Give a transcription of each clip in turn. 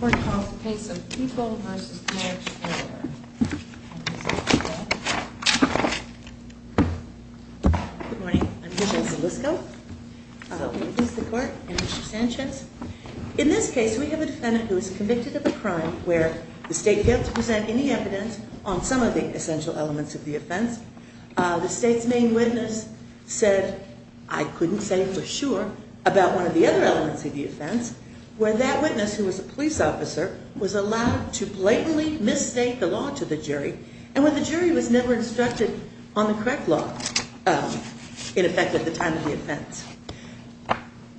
Court calls the case of Peeble v. Knapp, Jr. Good morning. I'm Hilda Zalisco. I work with the court and Mr. Sanchez. In this case, we have a defendant who is convicted of a crime where the state failed to present any evidence on some of the essential elements of the offense. The state's main witness said, I couldn't say for sure, about one of the other elements of the offense, where that witness, who was a police officer, was allowed to blatantly misstate the law to the jury, and where the jury was never instructed on the correct law, in effect, at the time of the offense.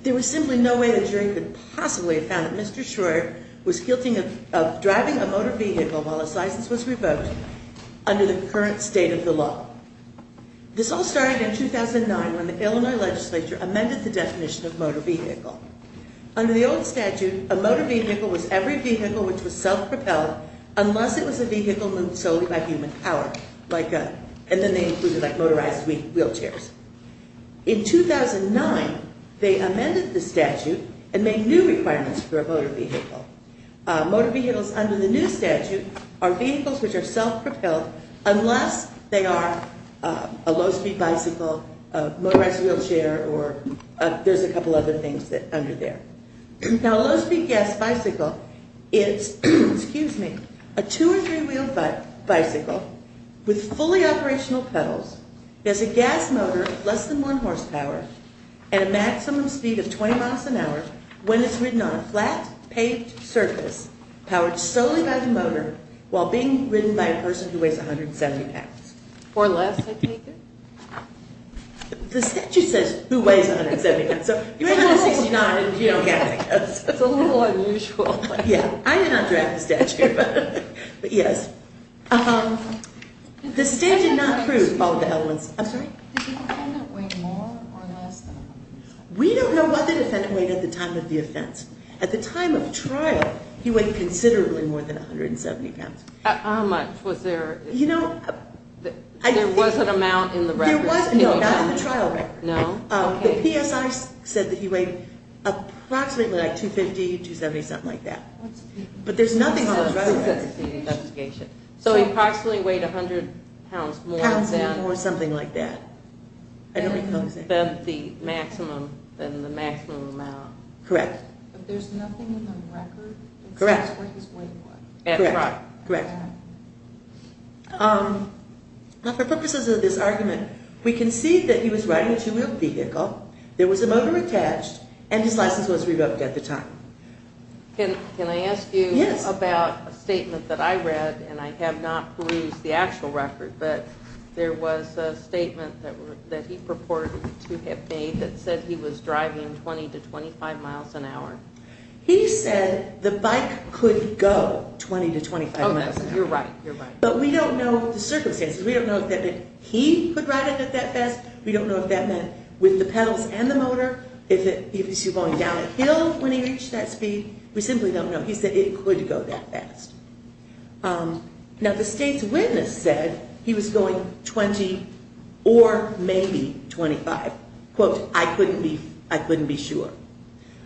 There was simply no way the jury could possibly have found that Mr. Schroyer was guilty of driving a motor vehicle while his license was revoked under the current state of the law. This all started in 2009 when the Illinois legislature amended the definition of motor vehicle. Under the old statute, a motor vehicle was every vehicle which was self-propelled unless it was a vehicle moved solely by human power, and then they included motorized wheelchairs. In 2009, they amended the statute and made new requirements for a motor vehicle. Motor vehicles under the new statute are vehicles which are self-propelled unless they are a low-speed bicycle, a motorized wheelchair, or there's a couple other things under there. Now, a low-speed gas bicycle is, excuse me, a two- and three-wheeled bicycle with fully operational pedals, has a gas motor less than one horsepower, and a maximum speed of 20 miles an hour when it's ridden on a flat paved surface, powered solely by the motor, while being ridden by a person who weighs 170 pounds. Or less, I take it? The statute says who weighs 170 pounds, so you're 169 and you don't have to guess. It's a little unusual. Yeah. I did not draft the statute, but yes. The state did not prove all of the elements. I'm sorry? Did the defendant weigh more or less than 170 pounds? We don't know what the defendant weighed at the time of the offense. At the time of trial, he weighed considerably more than 170 pounds. How much was there? There was an amount in the record. No, not in the trial record. The PSI said that he weighed approximately 250, 270, something like that. But there's nothing in the record. So he approximately weighed 100 pounds more than the maximum amount. Correct. But there's nothing in the record? Correct. At trial? Correct. Now, for purposes of this argument, we concede that he was riding a two-wheel vehicle, there was a motor attached, and his license was revoked at the time. Can I ask you about a statement that I read, and I have not perused the actual record, but there was a statement that he purported to have made that said he was driving 20 to 25 miles an hour. He said the bike could go 20 to 25 miles an hour. Oh, that's right. You're right. But we don't know the circumstances. We don't know if that meant he could ride it that fast. We don't know if that meant with the pedals and the motor, if he was going downhill when he reached that speed. We simply don't know. He said it could go that fast. Now, the state's witness said he was going 20 or maybe 25. Quote, I couldn't be sure.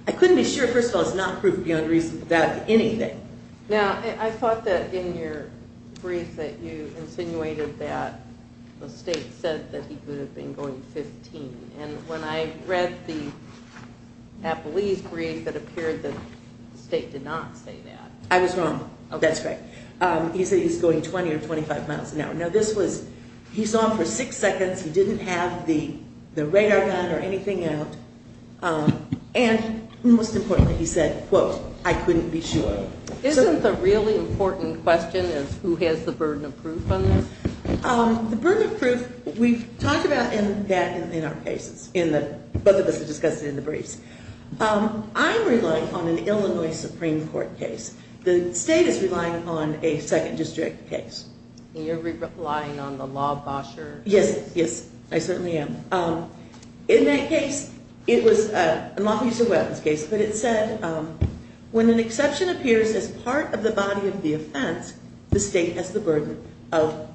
I couldn't be sure. First of all, it's not proof beyond reason that anything. Now, I thought that in your brief that you insinuated that the state said that he could have been going 15. And when I read the Appalese brief, it appeared that the state did not say that. I was wrong. That's correct. He said he was going 20 or 25 miles an hour. Now, this was he's on for six seconds. He didn't have the radar gun or anything out. And most importantly, he said, quote, I couldn't be sure. Isn't the really important question is who has the burden of proof on this? The burden of proof, we've talked about that in our cases. Both of us have discussed it in the briefs. I'm relying on an Illinois Supreme Court case. The state is relying on a second district case. And you're relying on the law basher? Yes, yes, I certainly am. In that case, it was a lawful use of weapons case, but it said when an exception appears as part of the body of the offense, the state has the burden of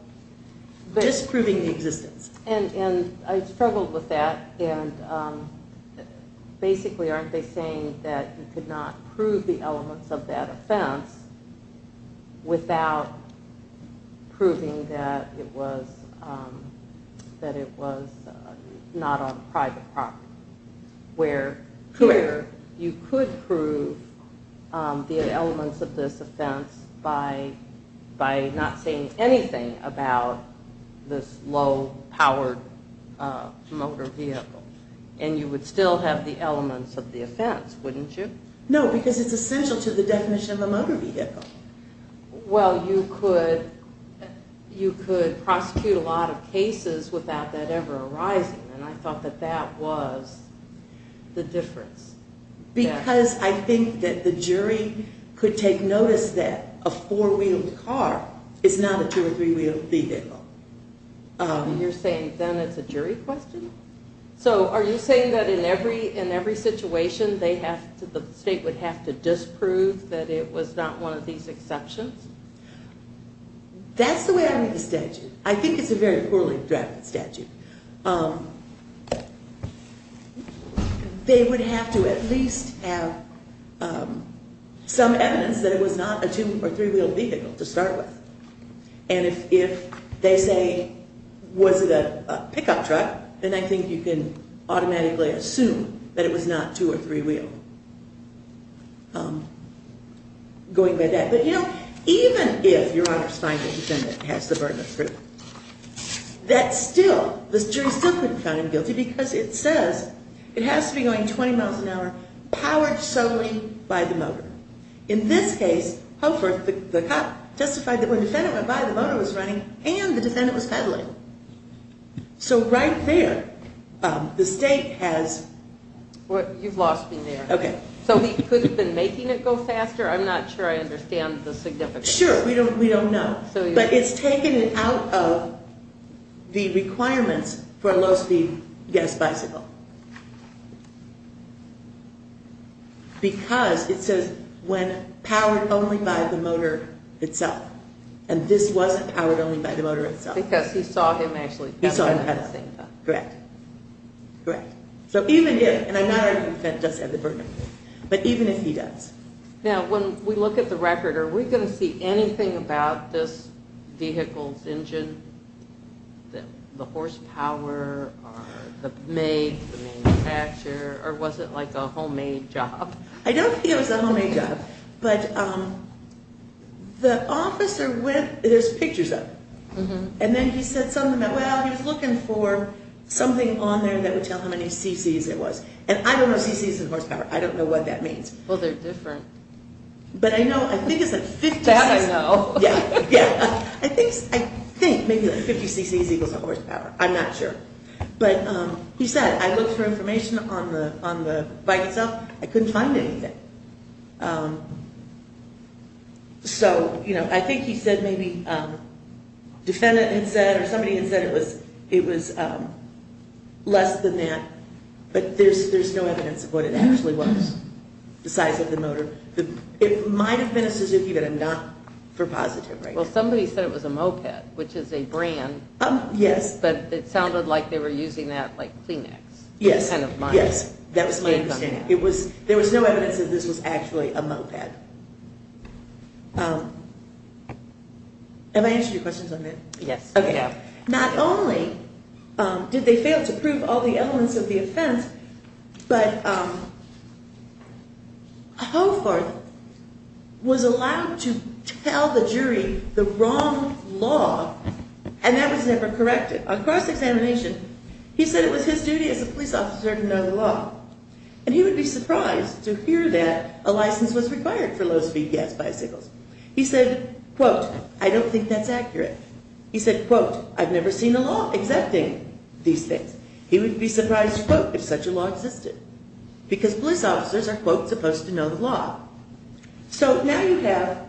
disproving the existence. And I struggled with that. And basically, aren't they saying that you could not prove the elements of that offense without proving that it was that it was not on private property? Where you could prove the elements of this offense by by not saying anything about this low powered motor vehicle. And you would still have the elements of the offense, wouldn't you? No, because it's essential to the definition of a motor vehicle. Well, you could prosecute a lot of cases without that ever arising. And I thought that that was the difference. Because I think that the jury could take notice that a four wheeled car is not a two or three wheeled vehicle. You're saying then it's a jury question? So are you saying that in every situation, the state would have to disprove that it was not one of these exceptions? That's the way I read the statute. I think it's a very poorly drafted statute. They would have to at least have some evidence that it was not a two or three wheeled vehicle to start with. And if they say, was it a pickup truck? Then I think you can automatically assume that it was not two or three wheeled going by that. But you know, even if your honor's finding defendant has the burden of truth, that still, the jury still couldn't find him guilty because it says it has to be going 20 miles an hour, powered solely by the motor. In this case, Hofer, the cop, testified that when the defendant went by, the motor was running and the defendant was pedaling. So right there, the state has... You've lost me there. Okay. So he could have been making it go faster? I'm not sure I understand the significance. Sure, we don't know. But it's taken it out of the requirements for a low speed gas bicycle. Because it says when powered only by the motor itself. And this wasn't powered only by the motor itself. Because he saw him actually pedaling at the same time. Correct. Correct. So even if, and I'm not arguing the defendant does have the burden of truth, but even if he does. Now, when we look at the record, are we going to see anything about this vehicle's engine? The horsepower, the make, the manufacturer, or was it like a homemade job? I don't think it was a homemade job. But the officer went, there's pictures of it. And then he said something about, well, he was looking for something on there that would tell how many cc's it was. And I don't know cc's and horsepower. I don't know what that means. Well, they're different. But I know, I think it's like 50 cc's. That I know. Yeah, yeah. I think maybe like 50 cc's equals a horsepower. I'm not sure. But he said, I looked for information on the bike itself. I couldn't find anything. So, you know, I think he said maybe, defendant had said or somebody had said it was less than that. But there's no evidence of what it actually was. The size of the motor. It might have been a Suzuki, but not for positive. Well, somebody said it was a moped, which is a brand. Yes. But it sounded like they were using that like Kleenex. Yes, yes. That was my understanding. It was, there was no evidence that this was actually a moped. Have I answered your questions on that? Yes. Okay. Not only did they fail to prove all the elements of the offense, but Hofarth was allowed to tell the jury the wrong law and that was never corrected. On cross-examination, he said it was his duty as a police officer to know the law. And he would be surprised to hear that a license was required for low-speed gas bicycles. He said, quote, I don't think that's accurate. He said, quote, I've never seen a law exempting these things. He would be surprised, quote, if such a law existed. Because police officers are, quote, supposed to know the law. So now you have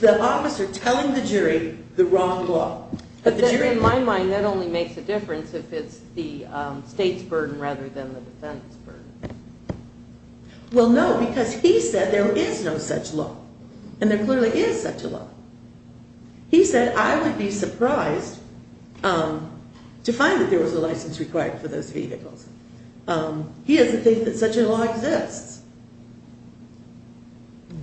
the officer telling the jury the wrong law. In my mind, that only makes a difference if it's the state's burden rather than the defense's burden. Well, no, because he said there is no such law. And there clearly is such a law. He said, I would be surprised to find that there was a license required for those vehicles. He doesn't think that such a law exists.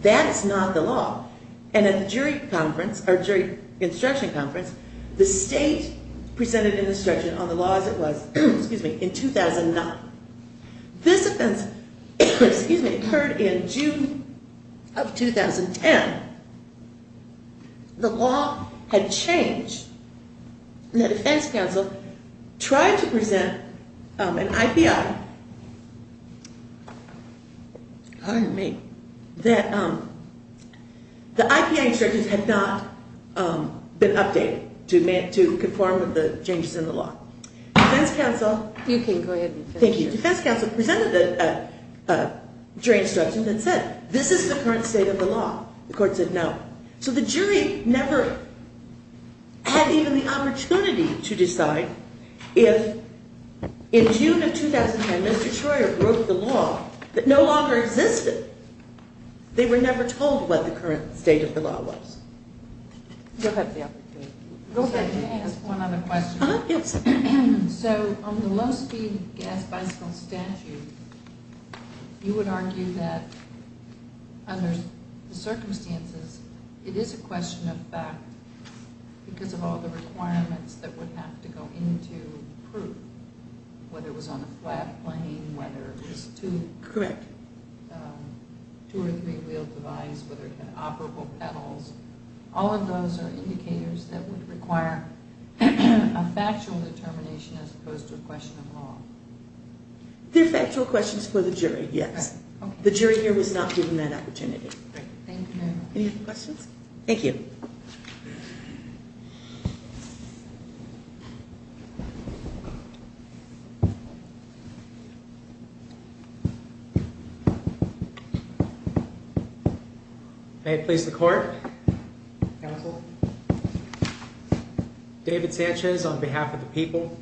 That's not the law. And at the jury conference, or jury instruction conference, the state presented an instruction on the law as it was, excuse me, in 2009. This offense, excuse me, occurred in June of 2010. The law had changed, and the defense counsel tried to present an IPI. Pardon me. That the IPI instructions had not been updated to conform with the changes in the law. Defense counsel. You can go ahead. Thank you. Defense counsel presented a jury instruction that said, this is the current state of the law. The court said no. So the jury never had even the opportunity to decide if, in June of 2009, Mr. Troyer broke the law that no longer existed. They were never told what the current state of the law was. Go ahead, yeah. Go ahead. Can I ask one other question? Yes. So on the low-speed gas bicycle statute, you would argue that, under the circumstances, it is a question of fact because of all the requirements that would have to go into proof, whether it was on a flat plane, whether it was two or three-wheeled device, whether it had operable pedals. All of those are indicators that would require a factual determination as opposed to a question of law. They're factual questions for the jury, yes. The jury here was not given that opportunity. Great. Thank you, ma'am. Any other questions? Thank you. May it please the court, counsel, David Sanchez on behalf of the people.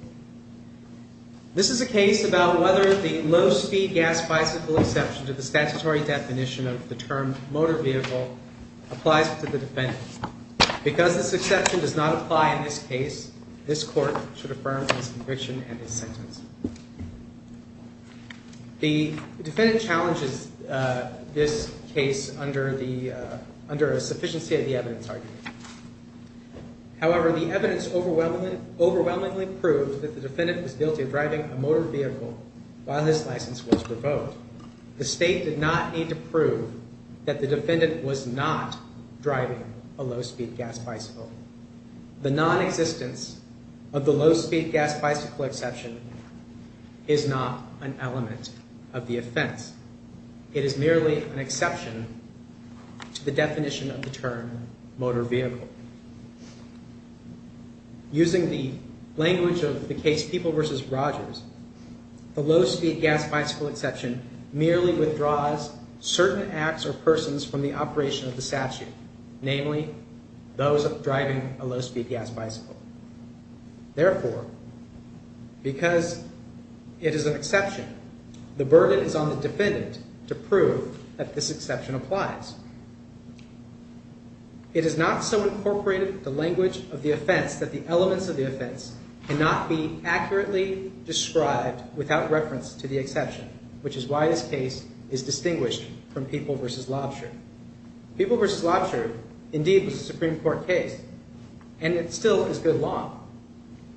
This is a case about whether the low-speed gas bicycle exception to the statutory definition of the term motor vehicle applies to the defendant. Because this exception does not apply in this case, this court should affirm his conviction and his sentence. The defendant challenges this case under a sufficiency of the evidence argument. However, the evidence overwhelmingly proves that the defendant was guilty of driving a motor vehicle while his license was revoked. The state did not need to prove that the defendant was not driving a low-speed gas bicycle. The nonexistence of the low-speed gas bicycle exception is not an element of the offense. It is merely an exception to the definition of the term motor vehicle. Using the language of the case People v. Rogers, the low-speed gas bicycle exception merely withdraws certain acts or persons from the operation of the statute, namely those driving a low-speed gas bicycle. Therefore, because it is an exception, the burden is on the defendant to prove that this exception applies. It is not so incorporated the language of the offense that the elements of the offense cannot be accurately described without reference to the exception, which is why this case is distinguished from People v. Lobsher. People v. Lobsher indeed was a Supreme Court case, and it still is good law.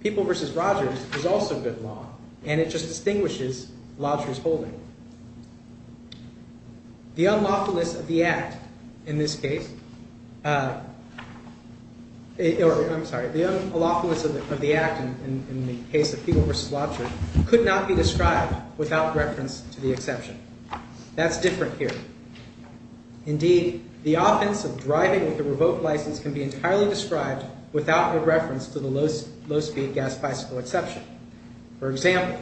People v. Rogers is also good law, and it just distinguishes Lobsher's holding. The unlawfulness of the act in this case, or I'm sorry, the unlawfulness of the act in the case of People v. Lobsher could not be described without reference to the exception. That's different here. Indeed, the offense of driving with a revoked license can be entirely described without the reference to the low-speed gas bicycle exception. For example,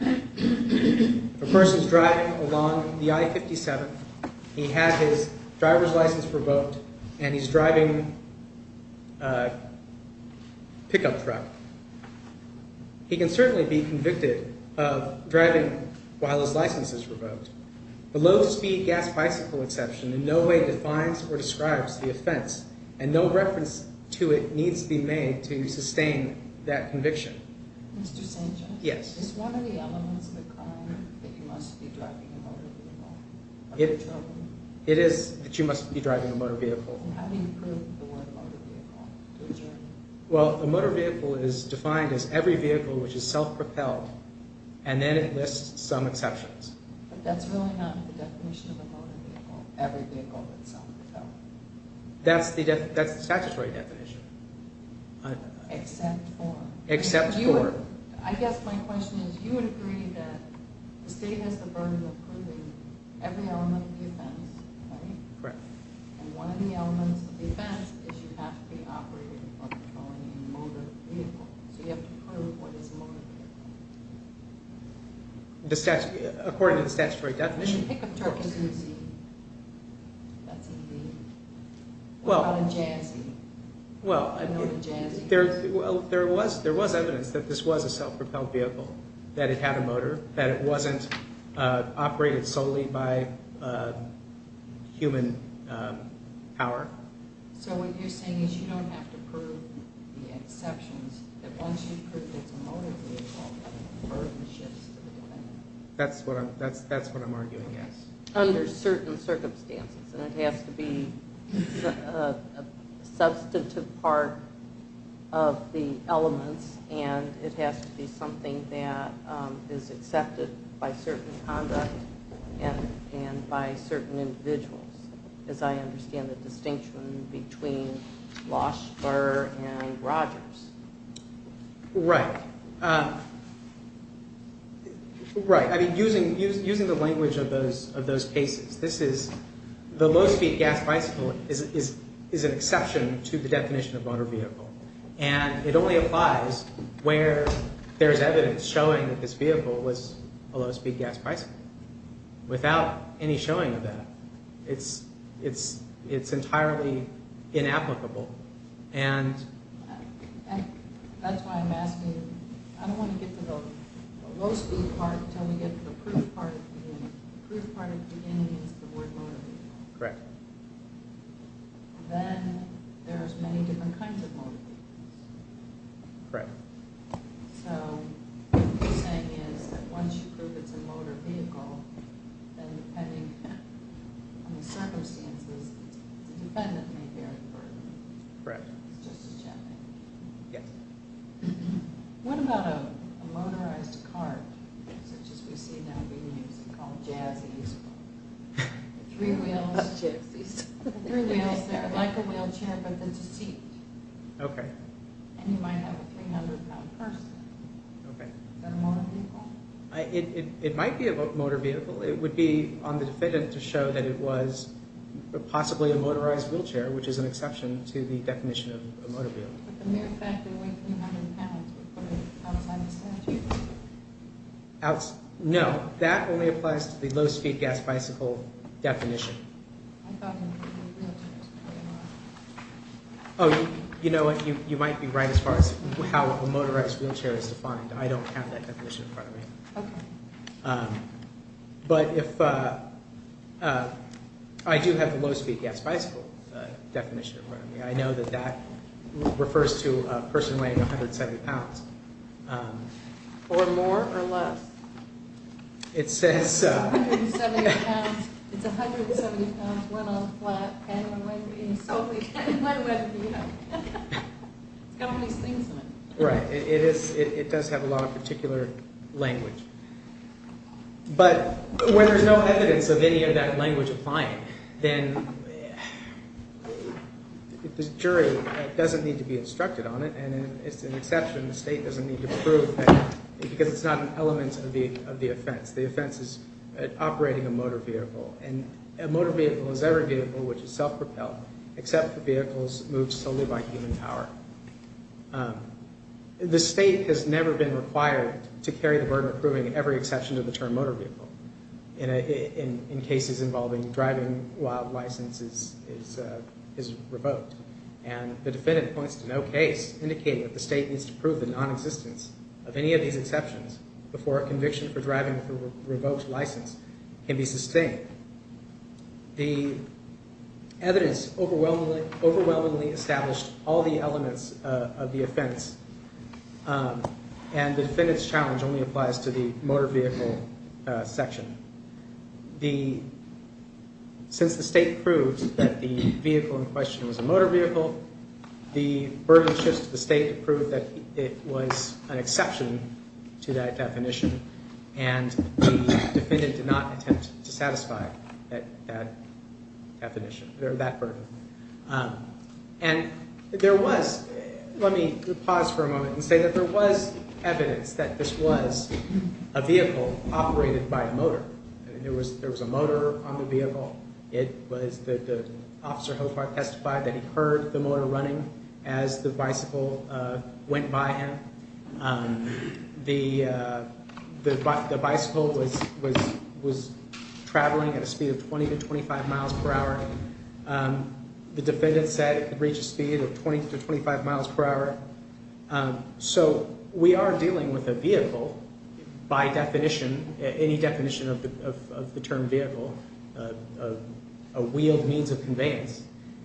a person's driving along the I-57. He has his driver's license revoked, and he's driving a pickup truck. He can certainly be convicted of driving while his license is revoked. The low-speed gas bicycle exception in no way defines or describes the offense, and no reference to it needs to be made to sustain that conviction. Mr. Sanchez? Yes. Is one of the elements of the crime that you must be driving a motor vehicle? It is that you must be driving a motor vehicle. And how do you prove the word motor vehicle? Well, a motor vehicle is defined as every vehicle which is self-propelled, and then it lists some exceptions. But that's really not the definition of a motor vehicle, every vehicle that's self-propelled. That's the statutory definition. Except for? Except for. I guess my question is, you would agree that the state has the burden of proving every element of the offense, right? Correct. And one of the elements of the offense is you have to be operating or controlling a motor vehicle. So you have to prove what is a motor vehicle. According to the statutory definition, of course. A pickup truck is easy. That's easy. What about a jazzy? Well, there was evidence that this was a self-propelled vehicle, that it had a motor, that it wasn't operated solely by human power. So what you're saying is you don't have to prove the exceptions, that once you've proved it's a motor vehicle, you don't have to prove the shifts to the defendant? That's what I'm arguing, yes. Under certain circumstances. And it has to be a substantive part of the elements, and it has to be something that is accepted by certain conduct and by certain individuals, as I understand the distinction between Losch, Burr, and Rogers. Right. Right. I mean, using the language of those cases, the low-speed gas bicycle is an exception to the definition of motor vehicle. And it only applies where there's evidence showing that this vehicle was a low-speed gas bicycle. Without any showing of that, it's entirely inapplicable. And that's why I'm asking, I don't want to get to the low-speed part until we get to the proof part of the beginning. The proof part of the beginning is the word motor vehicle. Correct. Then there's many different kinds of motor vehicles. Correct. So what you're saying is that once you prove it's a motor vehicle, then depending on the circumstances, the defendant may bear the burden. Correct. It's just a check. Yes. What about a motorized cart, such as we see now being used and called jazzy? Three wheels, like a wheelchair, but there's a seat. Okay. And you might have a 300-pound person. Okay. Is that a motor vehicle? It might be a motor vehicle. It would be on the defendant to show that it was possibly a motorized wheelchair, which is an exception to the definition of a motor vehicle. But the mere fact that it went 300 pounds would put it outside the statute. No. That only applies to the low-speed gas bicycle definition. I thought it was a wheelchair. Oh, you know what? You might be right as far as how a motorized wheelchair is defined. I don't have that definition in front of me. Okay. But I do have the low-speed gas bicycle definition in front of me. I know that that refers to a person weighing 170 pounds. Or more or less. It says so. It's 170 pounds, it's 170 pounds, went on flat, and my wife is eating slowly, and my wife, you know. It's got all these things in it. Right. It does have a lot of particular language. But when there's no evidence of any of that language applying, then the jury doesn't need to be instructed on it, and it's an exception. The state doesn't need to prove that because it's not an element of the offense. The offense is operating a motor vehicle, and a motor vehicle is every vehicle which is self-propelled, except for vehicles moved solely by human power. The state has never been required to carry the burden of proving every exception to the term motor vehicle in cases involving driving while license is revoked. And the defendant points to no case indicating that the state needs to prove the nonexistence of any of these exceptions before a conviction for driving with a revoked license can be sustained. The evidence overwhelmingly established all the elements of the offense, and the defendant's challenge only applies to the motor vehicle section. Since the state proved that the vehicle in question was a motor vehicle, the burden shifts to the state to prove that it was an exception to that definition, and the defendant did not attempt to satisfy that definition, that burden. And there was, let me pause for a moment and say that there was evidence that this was a vehicle operated by a motor. There was a motor on the vehicle. It was the officer testified that he heard the motor running as the bicycle went by him. The bicycle was traveling at a speed of 20 to 25 miles per hour. The defendant said it could reach a speed of 20 to 25 miles per hour. So we are dealing with a vehicle by definition, any definition of the term vehicle, a wheeled means of conveyance.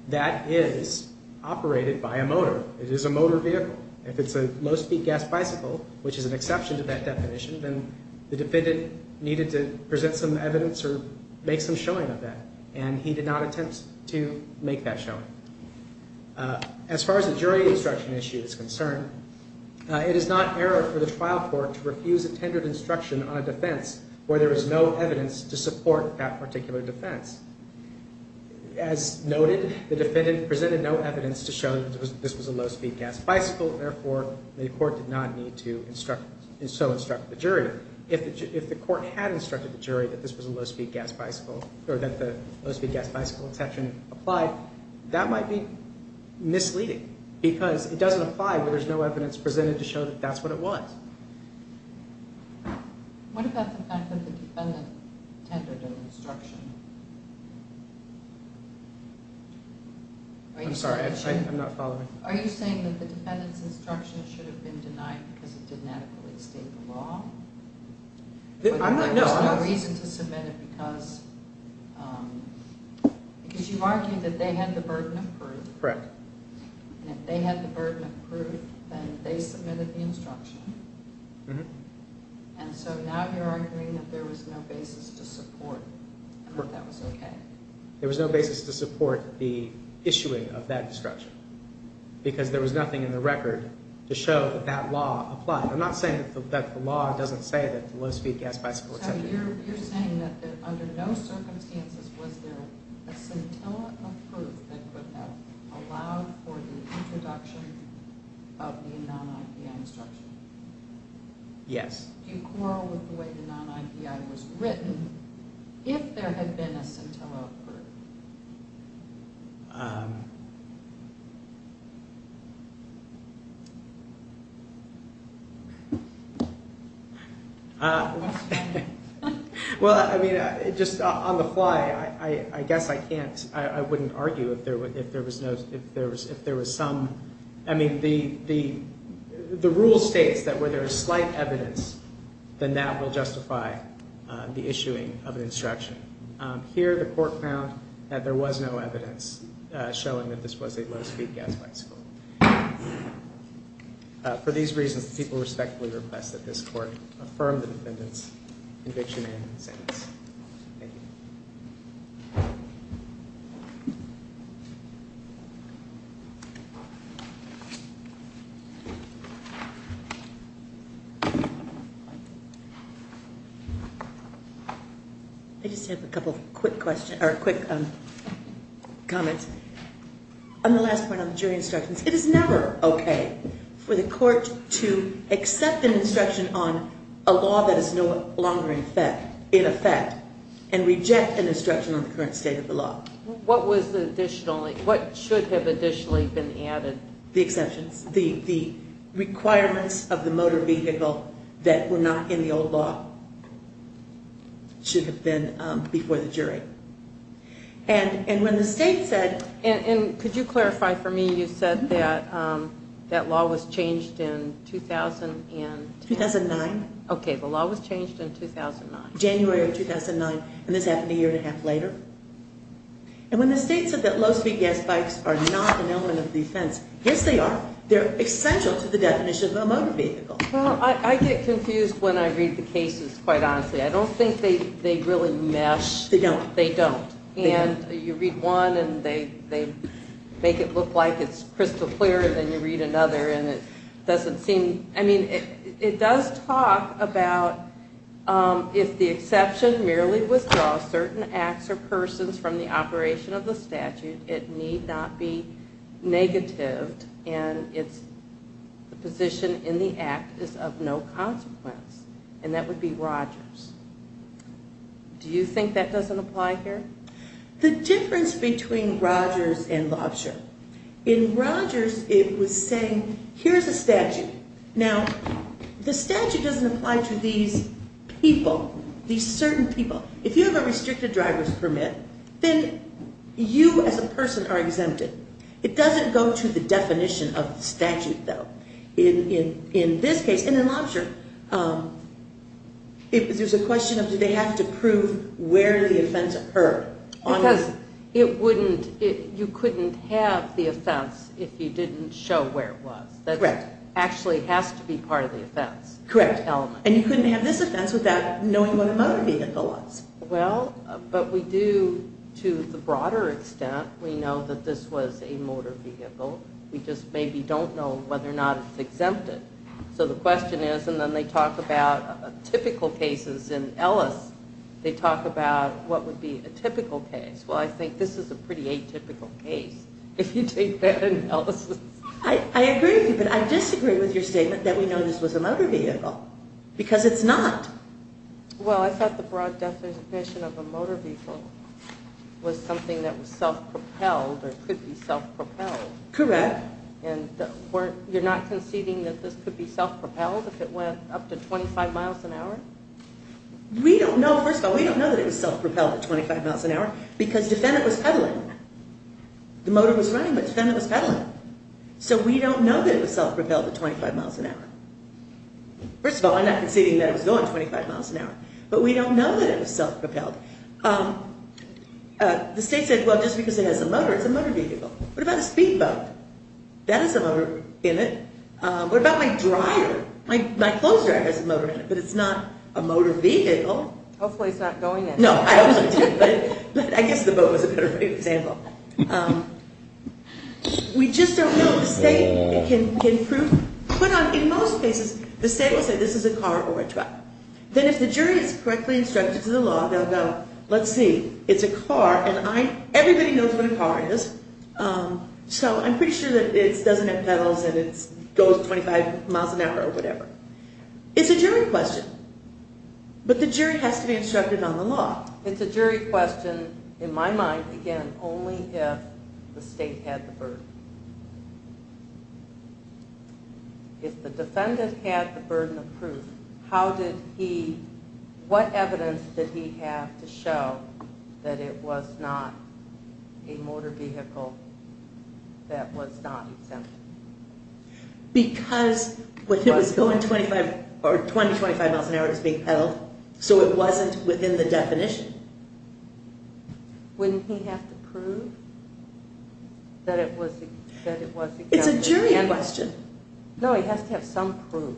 That is operated by a motor. It is a motor vehicle. If it's a low-speed gas bicycle, which is an exception to that definition, then the defendant needed to present some evidence or make some showing of that, and he did not attempt to make that showing. As far as the jury instruction issue is concerned, it is not error for the trial court to refuse a tendered instruction on a defense where there is no evidence to support that particular defense. As noted, the defendant presented no evidence to show that this was a low-speed gas bicycle, and therefore the court did not need to so instruct the jury. If the court had instructed the jury that this was a low-speed gas bicycle or that the low-speed gas bicycle exception applied, that might be misleading because it doesn't apply where there's no evidence presented to show that that's what it was. What about the fact that the defendant tendered an instruction? I'm sorry, I'm not following. Are you saying that the defendant's instruction should have been denied because it didn't adequately state the law? There's no reason to submit it because you argued that they had the burden of proof. Correct. And if they had the burden of proof, then they submitted the instruction. And so now you're arguing that there was no basis to support that that was okay. There was no basis to support the issuing of that instruction because there was nothing in the record to show that that law applied. I'm not saying that the law doesn't say that the low-speed gas bicycle exception... So you're saying that under no circumstances was there a scintilla of proof that would have allowed for the introduction of the non-IPI instruction? Yes. Do you quarrel with the way the non-IPI was written if there had been a scintilla of proof? Um... Well, I mean, just on the fly, I guess I can't... I wouldn't argue if there was some... I mean, the rule states that where there is slight evidence, then that will justify the issuing of an instruction. Here, the court found that there was no evidence showing that this was a low-speed gas bicycle. For these reasons, the people respectfully request that this court affirm the defendant's conviction and sentence. Thank you. Thank you. I just have a couple of quick questions, or quick comments. On the last point on the jury instructions, it is never okay for the court to accept an instruction on a law that is no longer in effect, in effect, and reject an instruction on the current state of the law. What should have additionally been added? The exceptions. The requirements of the motor vehicle that were not in the old law should have been before the jury. And when the state said... And could you clarify for me, you said that law was changed in 2010? 2009. Okay, the law was changed in 2009. January of 2009, and this happened a year and a half later. And when the state said that low-speed gas bikes are not an element of defense, yes, they are. They're essential to the definition of a motor vehicle. Well, I get confused when I read the cases, quite honestly. I don't think they really mesh. They don't. They don't. And you read one, and they make it look like it's crystal clear, and then you read another, and it doesn't seem... I mean, it does talk about if the exception merely withdraws certain acts or persons from the operation of the statute, it need not be negatived, and the position in the act is of no consequence. And that would be Rogers. Do you think that doesn't apply here? The difference between Rogers and Lobsher. In Rogers, it was saying, here's a statute. Now, the statute doesn't apply to these people, these certain people. If you have a restricted driver's permit, then you as a person are exempted. It doesn't go to the definition of statute, though. In this case, and in Lobsher, there's a question of, do they have to prove where the offense occurred? Because you couldn't have the offense if you didn't show where it was. That actually has to be part of the offense. Correct. And you couldn't have this offense without knowing what a motor vehicle was. Well, but we do to the broader extent. We know that this was a motor vehicle. We just maybe don't know whether or not it's exempted. So the question is, and then they talk about typical cases in Ellis. They talk about what would be a typical case. Well, I think this is a pretty atypical case, if you take that analysis. I agree with you, but I disagree with your statement that we know this was a motor vehicle, because it's not. Well, I thought the broad definition of a motor vehicle was something that was self-propelled or could be self-propelled. Correct. And you're not conceding that this could be self-propelled if it went up to 25 miles an hour? We don't know. First of all, we don't know that it was self-propelled at 25 miles an hour because defendant was pedaling. The motor was running, but defendant was pedaling. So we don't know that it was self-propelled at 25 miles an hour. First of all, I'm not conceding that it was going 25 miles an hour, but we don't know that it was self-propelled. The state said, well, just because it has a motor, it's a motor vehicle. What about a speedboat? That has a motor in it. What about my dryer? My clothes dryer has a motor in it, but it's not a motor vehicle. Hopefully it's not going anywhere. No, I hope so too, but I guess the boat was a better example. We just don't know. The state can prove. But in most cases, the state will say this is a car or a truck. Then if the jury is correctly instructed to the law, they'll go, let's see, it's a car, and everybody knows what a car is, so I'm pretty sure that it doesn't have pedals and it goes 25 miles an hour or whatever. It's a jury question, but the jury has to be instructed on the law. It's a jury question, in my mind, again, only if the state had the burden. If the defendant had the burden of proof, how did he, what evidence did he have to show that it was not a motor vehicle that was not exempt? Because when it was going 25 or 20, 25 miles an hour, it was being pedaled, so it wasn't within the definition. Wouldn't he have to prove that it was exempt? It's a jury question. No, he has to have some proof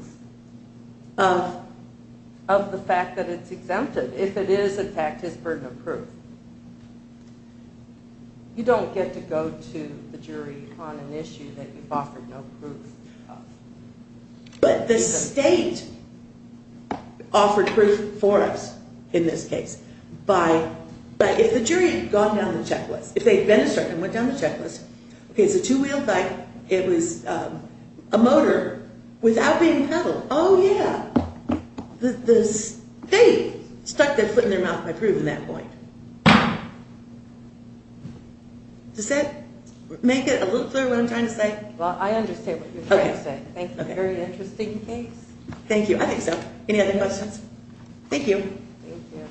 of the fact that it's exempted. If it is, in fact, his burden of proof. You don't get to go to the jury on an issue that you've offered no proof of. But the state offered proof for us in this case. But if the jury had gone down the checklist, if they had been instructed and went down the checklist, okay, it's a two-wheeled bike, it was a motor without being pedaled. Oh, yeah. The state stuck their foot in their mouth by proving that point. Does that make it a little clearer what I'm trying to say? Well, I understand what you're trying to say. Thank you. Very interesting case. Thank you. I think so. Any other questions? Thank you. Thank you.